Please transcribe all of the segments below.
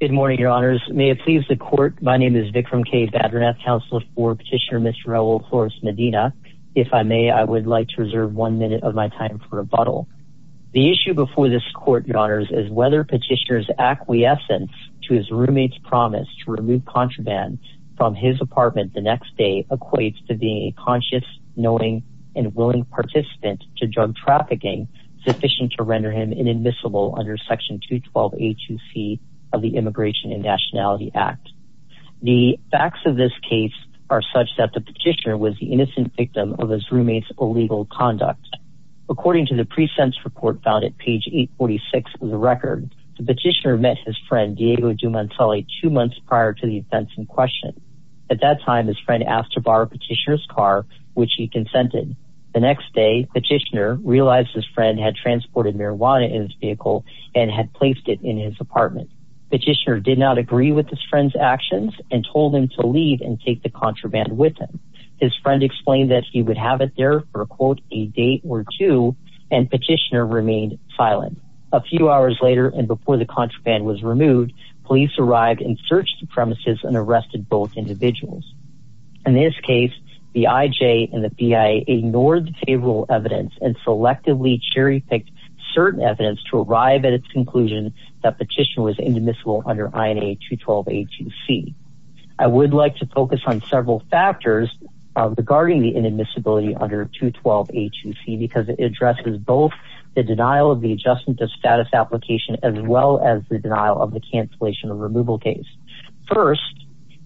Good morning, your honors. May it please the court, my name is Vikram K. Badrinath, counselor for Petitioner Mr. Raul Flores-Medina. If I may, I would like to reserve one minute of my time for rebuttal. The issue before this court, your honors, is whether Petitioner's acquiescence to his roommate's promise to remove contraband from his apartment the next day equates to being a conscious, knowing, and willing participant to drug trafficking sufficient to render him inadmissible under Section 212A2C of the Immigration and Nationality Act. The facts of this case are such that the Petitioner was the innocent victim of his roommate's illegal conduct. According to the pre-sentence report found at page 846 of the record, the Petitioner met his friend Diego Dumanzali two months prior to the events in question. At that time, his friend asked to borrow Petitioner's car, which he consented. The next day, Petitioner realized his friend had transported marijuana in his vehicle and had placed it in his apartment. Petitioner did not agree with his friend's actions and told him to leave and take the contraband with him. His friend explained that he would have it there for, quote, a day or two, and Petitioner remained silent. A few hours later and before the contraband was removed, police arrived and searched the premises and arrested both individuals. In this case, the IJ and the BIA ignored the evidence and selectively cherry-picked certain evidence to arrive at its conclusion that Petitioner was inadmissible under INA 212A2C. I would like to focus on several factors regarding the inadmissibility under 212A2C because it addresses both the denial of the adjustment of status application as well as the denial of the cancellation of removal case. First,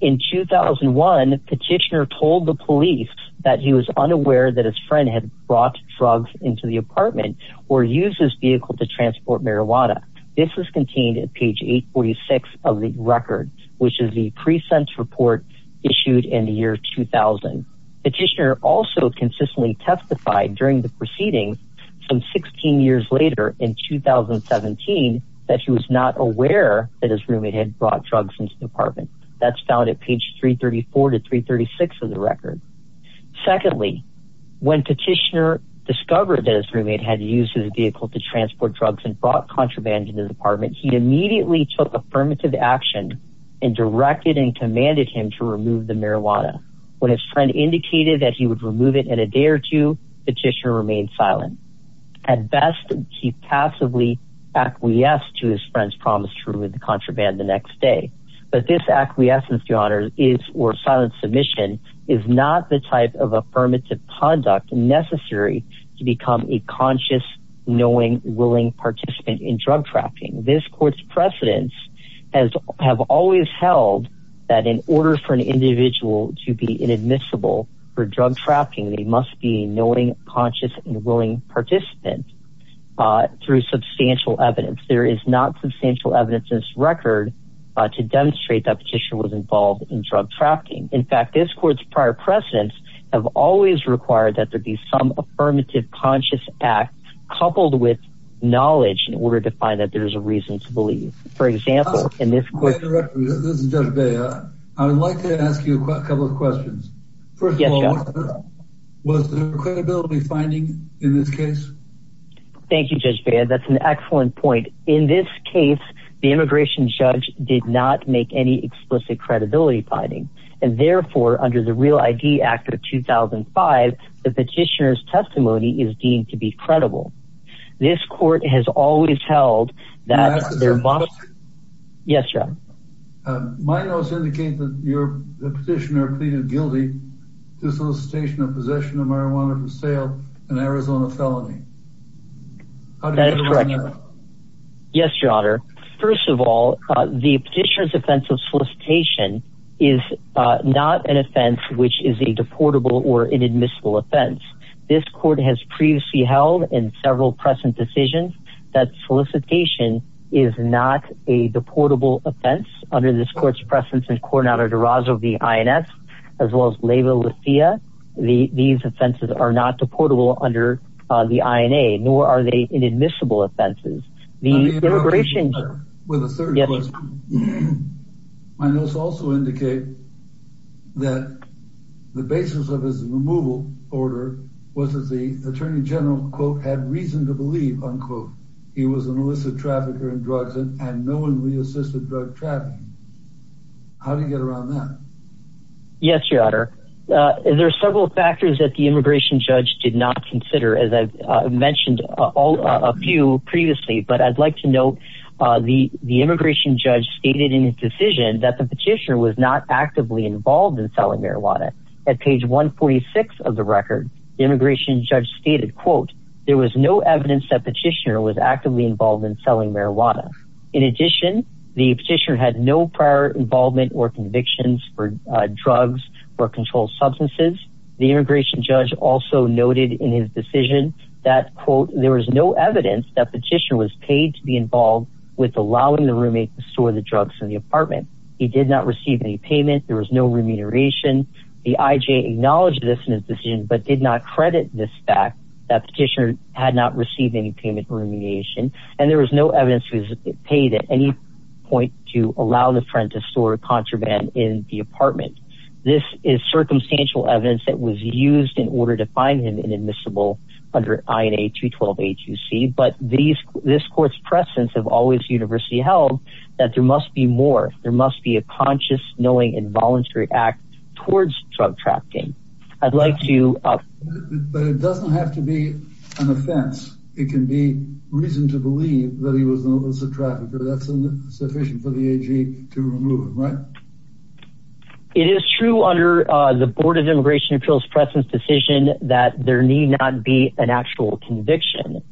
in 2001, Petitioner told the police that he was unaware that his friend had brought drugs into the apartment or used his vehicle to transport marijuana. This was contained at page 846 of the record, which is the pre-sent report issued in the year 2000. Petitioner also consistently testified during the proceedings some 16 years later in 2017 that he was not aware that his roommate had brought drugs into the apartment. That's found at page 334 to 336 of the record. Secondly, when Petitioner discovered that his roommate had used his vehicle to transport drugs and brought contraband into the apartment, he immediately took affirmative action and directed and commanded him to remove the marijuana. When his friend indicated that he would remove it in a day or two, Petitioner remained silent. At best, he passively acquiesced to his friend's promise to remove the marijuana in a day, but this acquiescence to honor is or silent submission is not the type of affirmative conduct necessary to become a conscious, knowing, willing participant in drug trapping. This court's precedents have always held that in order for an individual to be inadmissible for drug trapping, they must be a knowing, conscious, and willing participant through substantial evidence. There is not substantial evidence in this record to demonstrate that Petitioner was involved in drug trapping. In fact, this court's prior precedents have always required that there be some affirmative, conscious act coupled with knowledge in order to find that there is a reason to believe. For example, in this case, I would like to ask you a couple of questions. First of all, was there credibility finding in this case? Thank you, Judge Baird. That's an excellent point. In this case, the immigration judge did not make any explicit credibility finding, and therefore, under the Real ID Act of 2005, the Petitioner's testimony is deemed to be credible. This court has always held that there must... Yes, sir. My notes indicate that your Petitioner pleaded guilty to solicitation of possession of marijuana for sale, an Arizona felony. Yes, Your Honor. First of all, the Petitioner's offense of solicitation is not an offense which is a deportable or inadmissible offense. This court has previously held in several present decisions that solicitation is not a deportable offense under this court's precedents in the INS, as well as Leyva Lecia. These offenses are not deportable under the INA, nor are they inadmissible offenses. The immigration... With a third question, my notes also indicate that the basis of his removal order was that the Attorney General, quote, had reason to believe, unquote, he was an illicit trafficker in drugs and no one reassisted drug trafficking. How do you get around that? Yes, Your Honor. There are several factors that the immigration judge did not consider, as I've mentioned a few previously, but I'd like to note, the immigration judge stated in his decision that the Petitioner was not actively involved in selling marijuana. At page 146 of the record, the immigration judge stated, quote, there was no evidence that Petitioner was actively involved in selling marijuana. In addition, the Petitioner had no prior involvement or convictions for drugs or controlled substances. The immigration judge also noted in his decision that, quote, there was no evidence that Petitioner was paid to be involved with allowing the roommate to store the drugs in the apartment. He did not receive any payment. There was no remuneration. The IJ acknowledged this in his decision, but did not credit this fact that Petitioner had not received any payment remuneration, and there was no evidence he was paid at any point to allow the friend to store contraband in the apartment. This is circumstantial evidence that was used in order to find him inadmissible under INA 212 A2C, but this court's presence have always universally held that there must be more. There must be a conscious, knowing, and voluntary act towards drug trafficking. I'd like to... But it doesn't have to be an offense. It can be reason to believe that he was an illicit trafficker. That's sufficient for the AG to remove him, right? It is true under the Board of Immigration Appeals present decision that there need not be an actual conviction.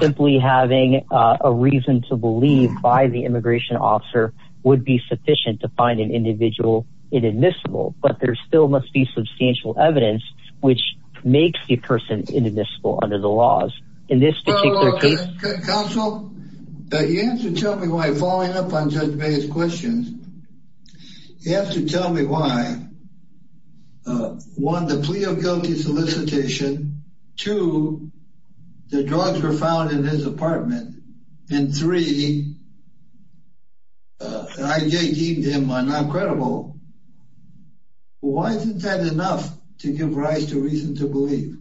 Simply having a reason to believe by the immigration officer would be sufficient to an individual inadmissible, but there still must be substantial evidence which makes the person inadmissible under the laws. In this particular case... Counsel, you have to tell me why, following up on Judge May's questions, you have to tell me why, one, the plea of guilty solicitation, two, the drugs were found in his apartment, and three, I deemed him not credible. Why isn't that enough to give rise to reason to believe?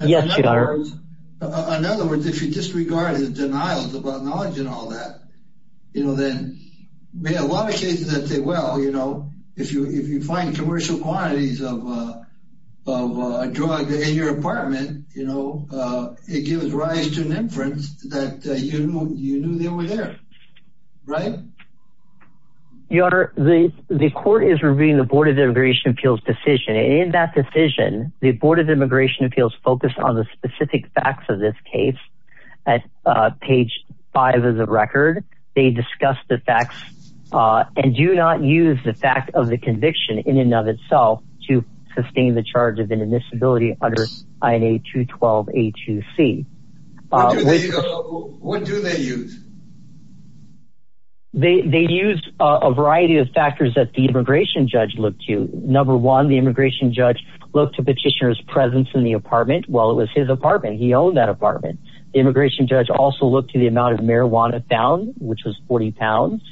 Yes, Your Honor. In other words, if you disregard his denials about knowledge and all that, you know, then a lot of cases that say, well, you know, if you find commercial quantities of a drug in your apartment, you know, it gives rise to an inference that you knew they were there. Right? Your Honor, the court is reviewing the Board of Immigration Appeals decision. In that decision, the Board of Immigration Appeals focused on the specific facts of this case. At page five of the record, they discuss the facts and do not use the fact of the conviction in and of itself to sustain the charge of inadmissibility under INA 212A2C. What do they use? They use a variety of factors that the immigration judge looked to. Number one, the immigration judge looked to petitioner's presence in the apartment while it was his apartment. He owned that apartment. The immigration judge also looked to the amount of marijuana found, which was 40 pounds.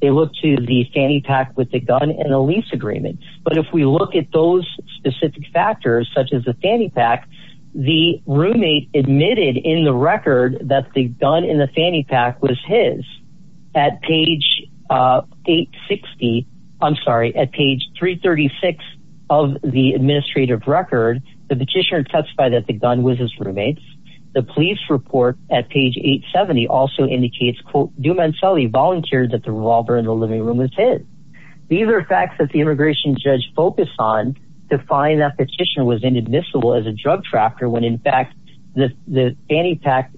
They looked to the fanny pack with the gun and the lease agreement. But if we look at those specific factors, such as the fanny pack, the roommate admitted in the record that the gun in the fanny pack was his. At page 860, I'm sorry, at page 336 of the administrative record, the petitioner testified that the gun was his roommate's. The police report at page 870 also indicates, quote, Dumancelli volunteered that the revolver in the living room was his. These are facts that the immigration judge focused on to find that petitioner was inadmissible as a drug trafficker when, in fact, the fanny pack,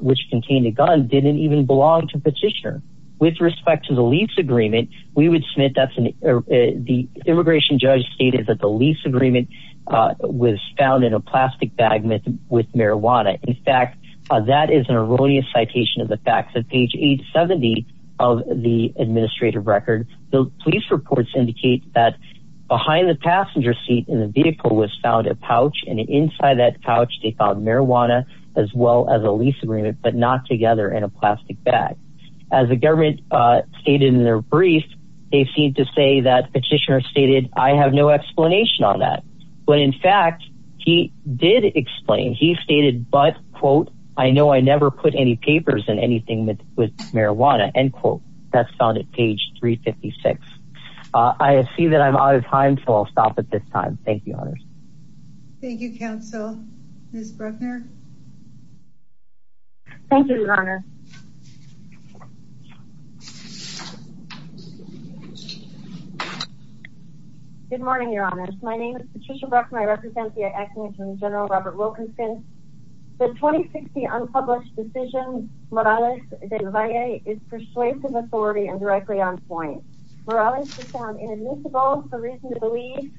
which contained a gun, didn't even belong to the petitioner. With respect to the lease agreement, we would submit the immigration judge stated that the lease agreement was found in a plastic bag with marijuana. In fact, that is an erroneous citation of the facts. At page 870 of the administrative record, the police reports indicate that behind the passenger seat in the vehicle was found a pouch, and inside that pouch they found marijuana as well as a lease agreement, but not together in a plastic bag. As the government stated in their brief, they seem to say that petitioner stated, I have no explanation on that, but, in fact, he did explain. He stated, but, quote, I know I never put any papers in anything with marijuana, end quote. That's found at page 356. I see that I'm out of time, so I'll stop at this time. Thank you, honors. Thank you, counsel. Ms. Bruckner? Thank you, your honor. Good morning, your honors. My name is Patricia Bruckner. I represent the acting attorney general, Robert Wilkinson. The 2060 unpublished decision, Morales de la Valle, is persuasive, authority, and directly on point. Morales was found inadmissible for reason to believe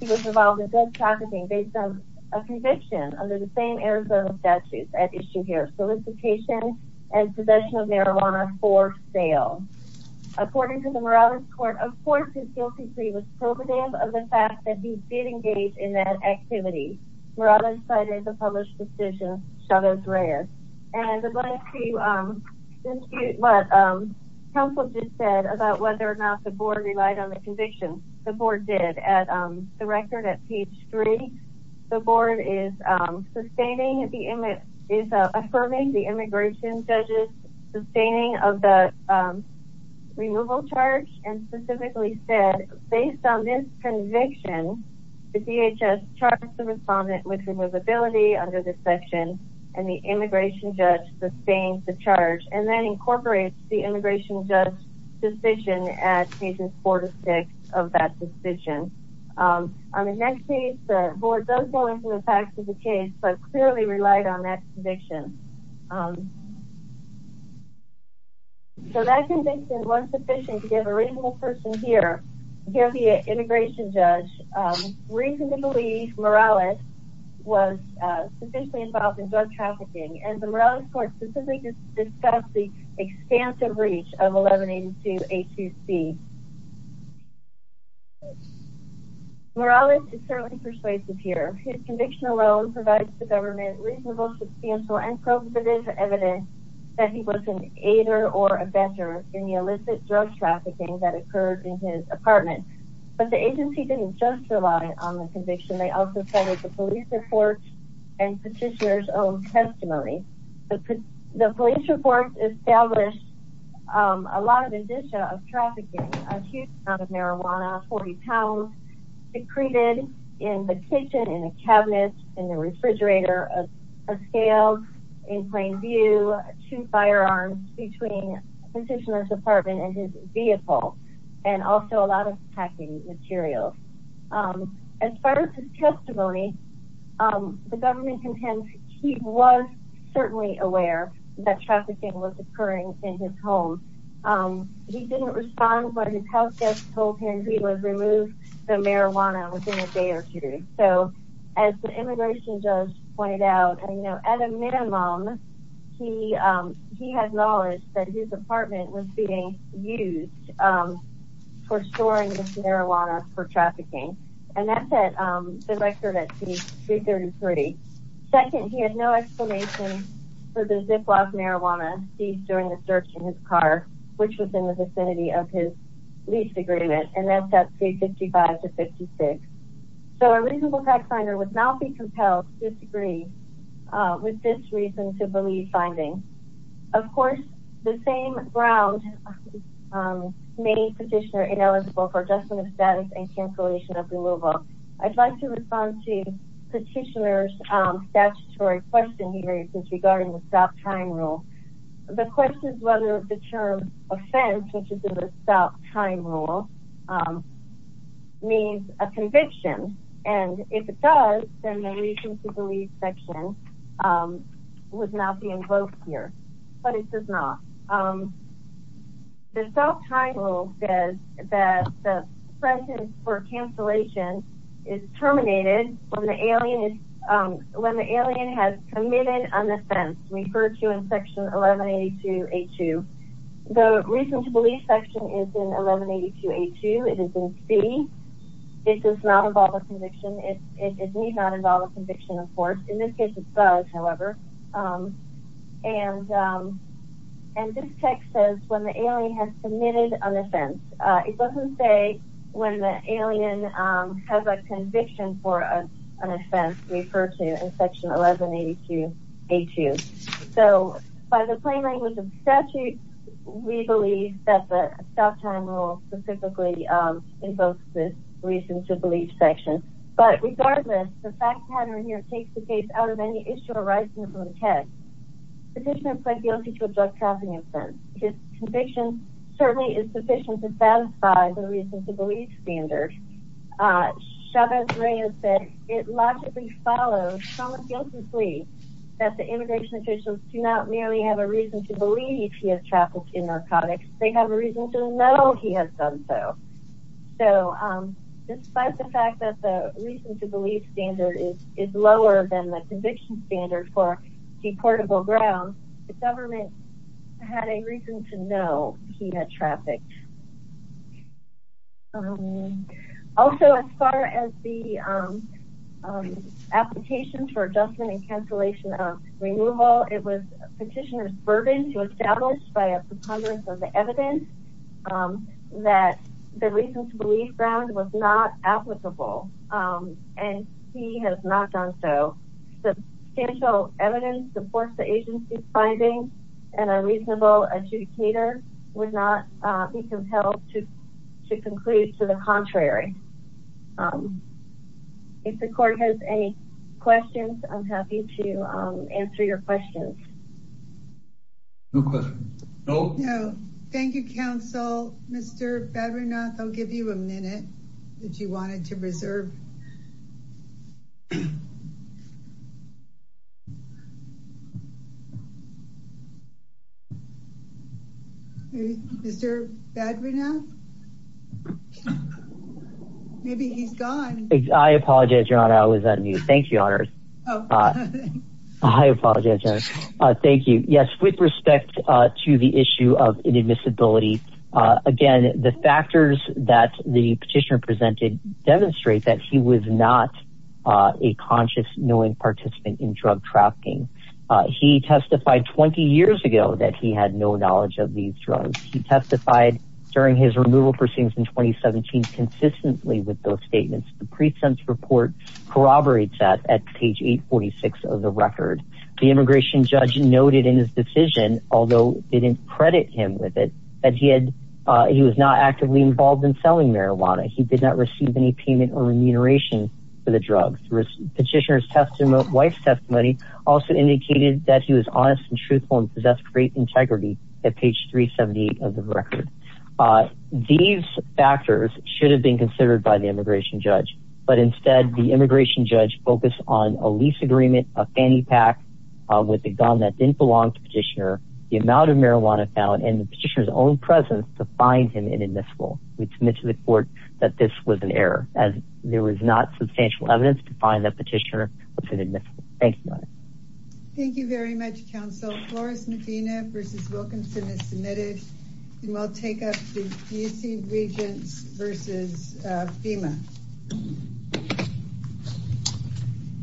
he was involved in drug trafficking based on a conviction under the same Arizona statutes at issue here, solicitation and possession of marijuana for sale. According to the Morales court, of course, his guilty plea was probative of the fact that he did engage in that activity. Morales cited the published decision, shadows rare. And I'd like to dispute what counsel just said about whether or not the board relied on the conviction. The board did. At the record at page three, the board is sustaining, is affirming the immigration judge's sustaining of the removal charge and specifically said, based on this conviction, the DHS charged the respondent with removability under this section and the immigration judge sustained the charge and then incorporates the immigration judge's suspicion at pages four to six of that decision. On the next page, the board does go into the facts of the case, but clearly relied on that conviction. So that conviction was sufficient to give a reasonable person here, here the immigration judge, reason to believe Morales was sufficiently involved in drug trafficking and the Morales court specifically discussed the expansive reach of 1182 A2C. Morales is certainly persuasive here. His conviction alone provides the government reasonable substantial and probative evidence that he wasn't either or a vendor in the illicit drug trafficking that occurred in his apartment. But the agency didn't just rely on the conviction. They also cited the police reports and petitioner's own testimony. The police reports established a lot of indicia of trafficking, a huge amount of marijuana, 40 pounds, secreted in the kitchen, in a cabinet, in the refrigerator, a scale, in plain view, two firearms between petitioner's apartment and his vehicle, and also a lot of packing materials. As far as his testimony, the government contends he was certainly aware that trafficking was occurring in his home. He didn't respond when his houseguest told him he was removed marijuana within a day or two. So as the immigration judge pointed out, at a minimum, he had knowledge that his apartment was being used for storing this marijuana for trafficking. And that set the record at 333. Second, he had no explanation for the ziploc marijuana seized during the search in his car, which was in the vicinity of his lease agreement. And that's 355 to 56. So a reasonable tax finder would not be compelled to disagree with this reason to believe findings. Of course, the same ground made petitioner ineligible for adjustment of status and cancellation of removal. I'd like to respond to petitioner's statutory question here regarding the stop time rule. The question is whether the term offense, which is in the stop time rule, means a conviction. And if it does, then the reason to believe section would not be invoked here. But it does not. The stop time rule says that the presence for cancellation is terminated when the alien has committed an offense, referred to in section 1182 A2. The reason to believe section is in 1182 A2. It is in C. It does not involve a conviction. It needs not involve a conviction, of course. In this case, it does, however. And this text says when the alien has committed an offense. It doesn't say when the alien has a conviction for an offense referred to in section 1182 A2. So by the plain language of statute, we believe that the stop time rule specifically invokes this reason to believe section. But regardless, the fact pattern here takes the case out of any issue arising from the text. Petitioner pled guilty to a drug trafficking offense. His conviction certainly is sufficient to satisfy the reason to believe standard. Chavez-Reyes said it logically follows, somewhat guiltlessly, that the immigration officials do not merely have a reason to believe he has trafficked in narcotics. They have a reason to know he has done so. So despite the fact that the reason to believe standard is lower than the conviction standard for deportable grounds, the government had a reason to know he had trafficked. Also, as far as the application for adjustment and cancellation of removal, it was Petitioner's burden to establish by a preponderance of the evidence that the reason to believe ground was not applicable, and he has not done so. Substantial evidence supports the agency's findings, and a reasonable adjudicator would not be compelled to conclude to the contrary. If the court has any questions, I'm happy to answer your questions. No questions. No? No. Thank you, counsel. Mr. Badrinath, I'll give you a minute if you wanted to reserve. Mr. Badrinath? Maybe he's gone. I apologize, your honor, I was on mute. Thank you, thank you. Yes, with respect to the issue of inadmissibility, again, the factors that the petitioner presented demonstrate that he was not a conscious, knowing participant in drug trafficking. He testified 20 years ago that he had no knowledge of these drugs. He testified during his removal proceedings in 2017 consistently with those statements. The present report corroborates that at page 846 of the record. The immigration judge noted in his decision, although it didn't credit him with it, that he was not actively involved in selling marijuana. He did not receive any payment or remuneration for the drugs. Petitioner's wife's testimony also indicated that he was honest and truthful and possessed great integrity at page 378 of the record. These factors should have been considered by the immigration judge, but instead the immigration judge focused on a lease agreement, a fanny pack with a gun that didn't belong to petitioner, the amount of marijuana found, and the petitioner's own presence to find him inadmissible. We submit to the court that this was an error, as there was not substantial evidence to find that petitioner was inadmissible. Thank you, your honor. Thank you very much, counsel. Flores Medina versus Wilkinson is submitted, and we'll take up the D.C. Regents versus FEMA.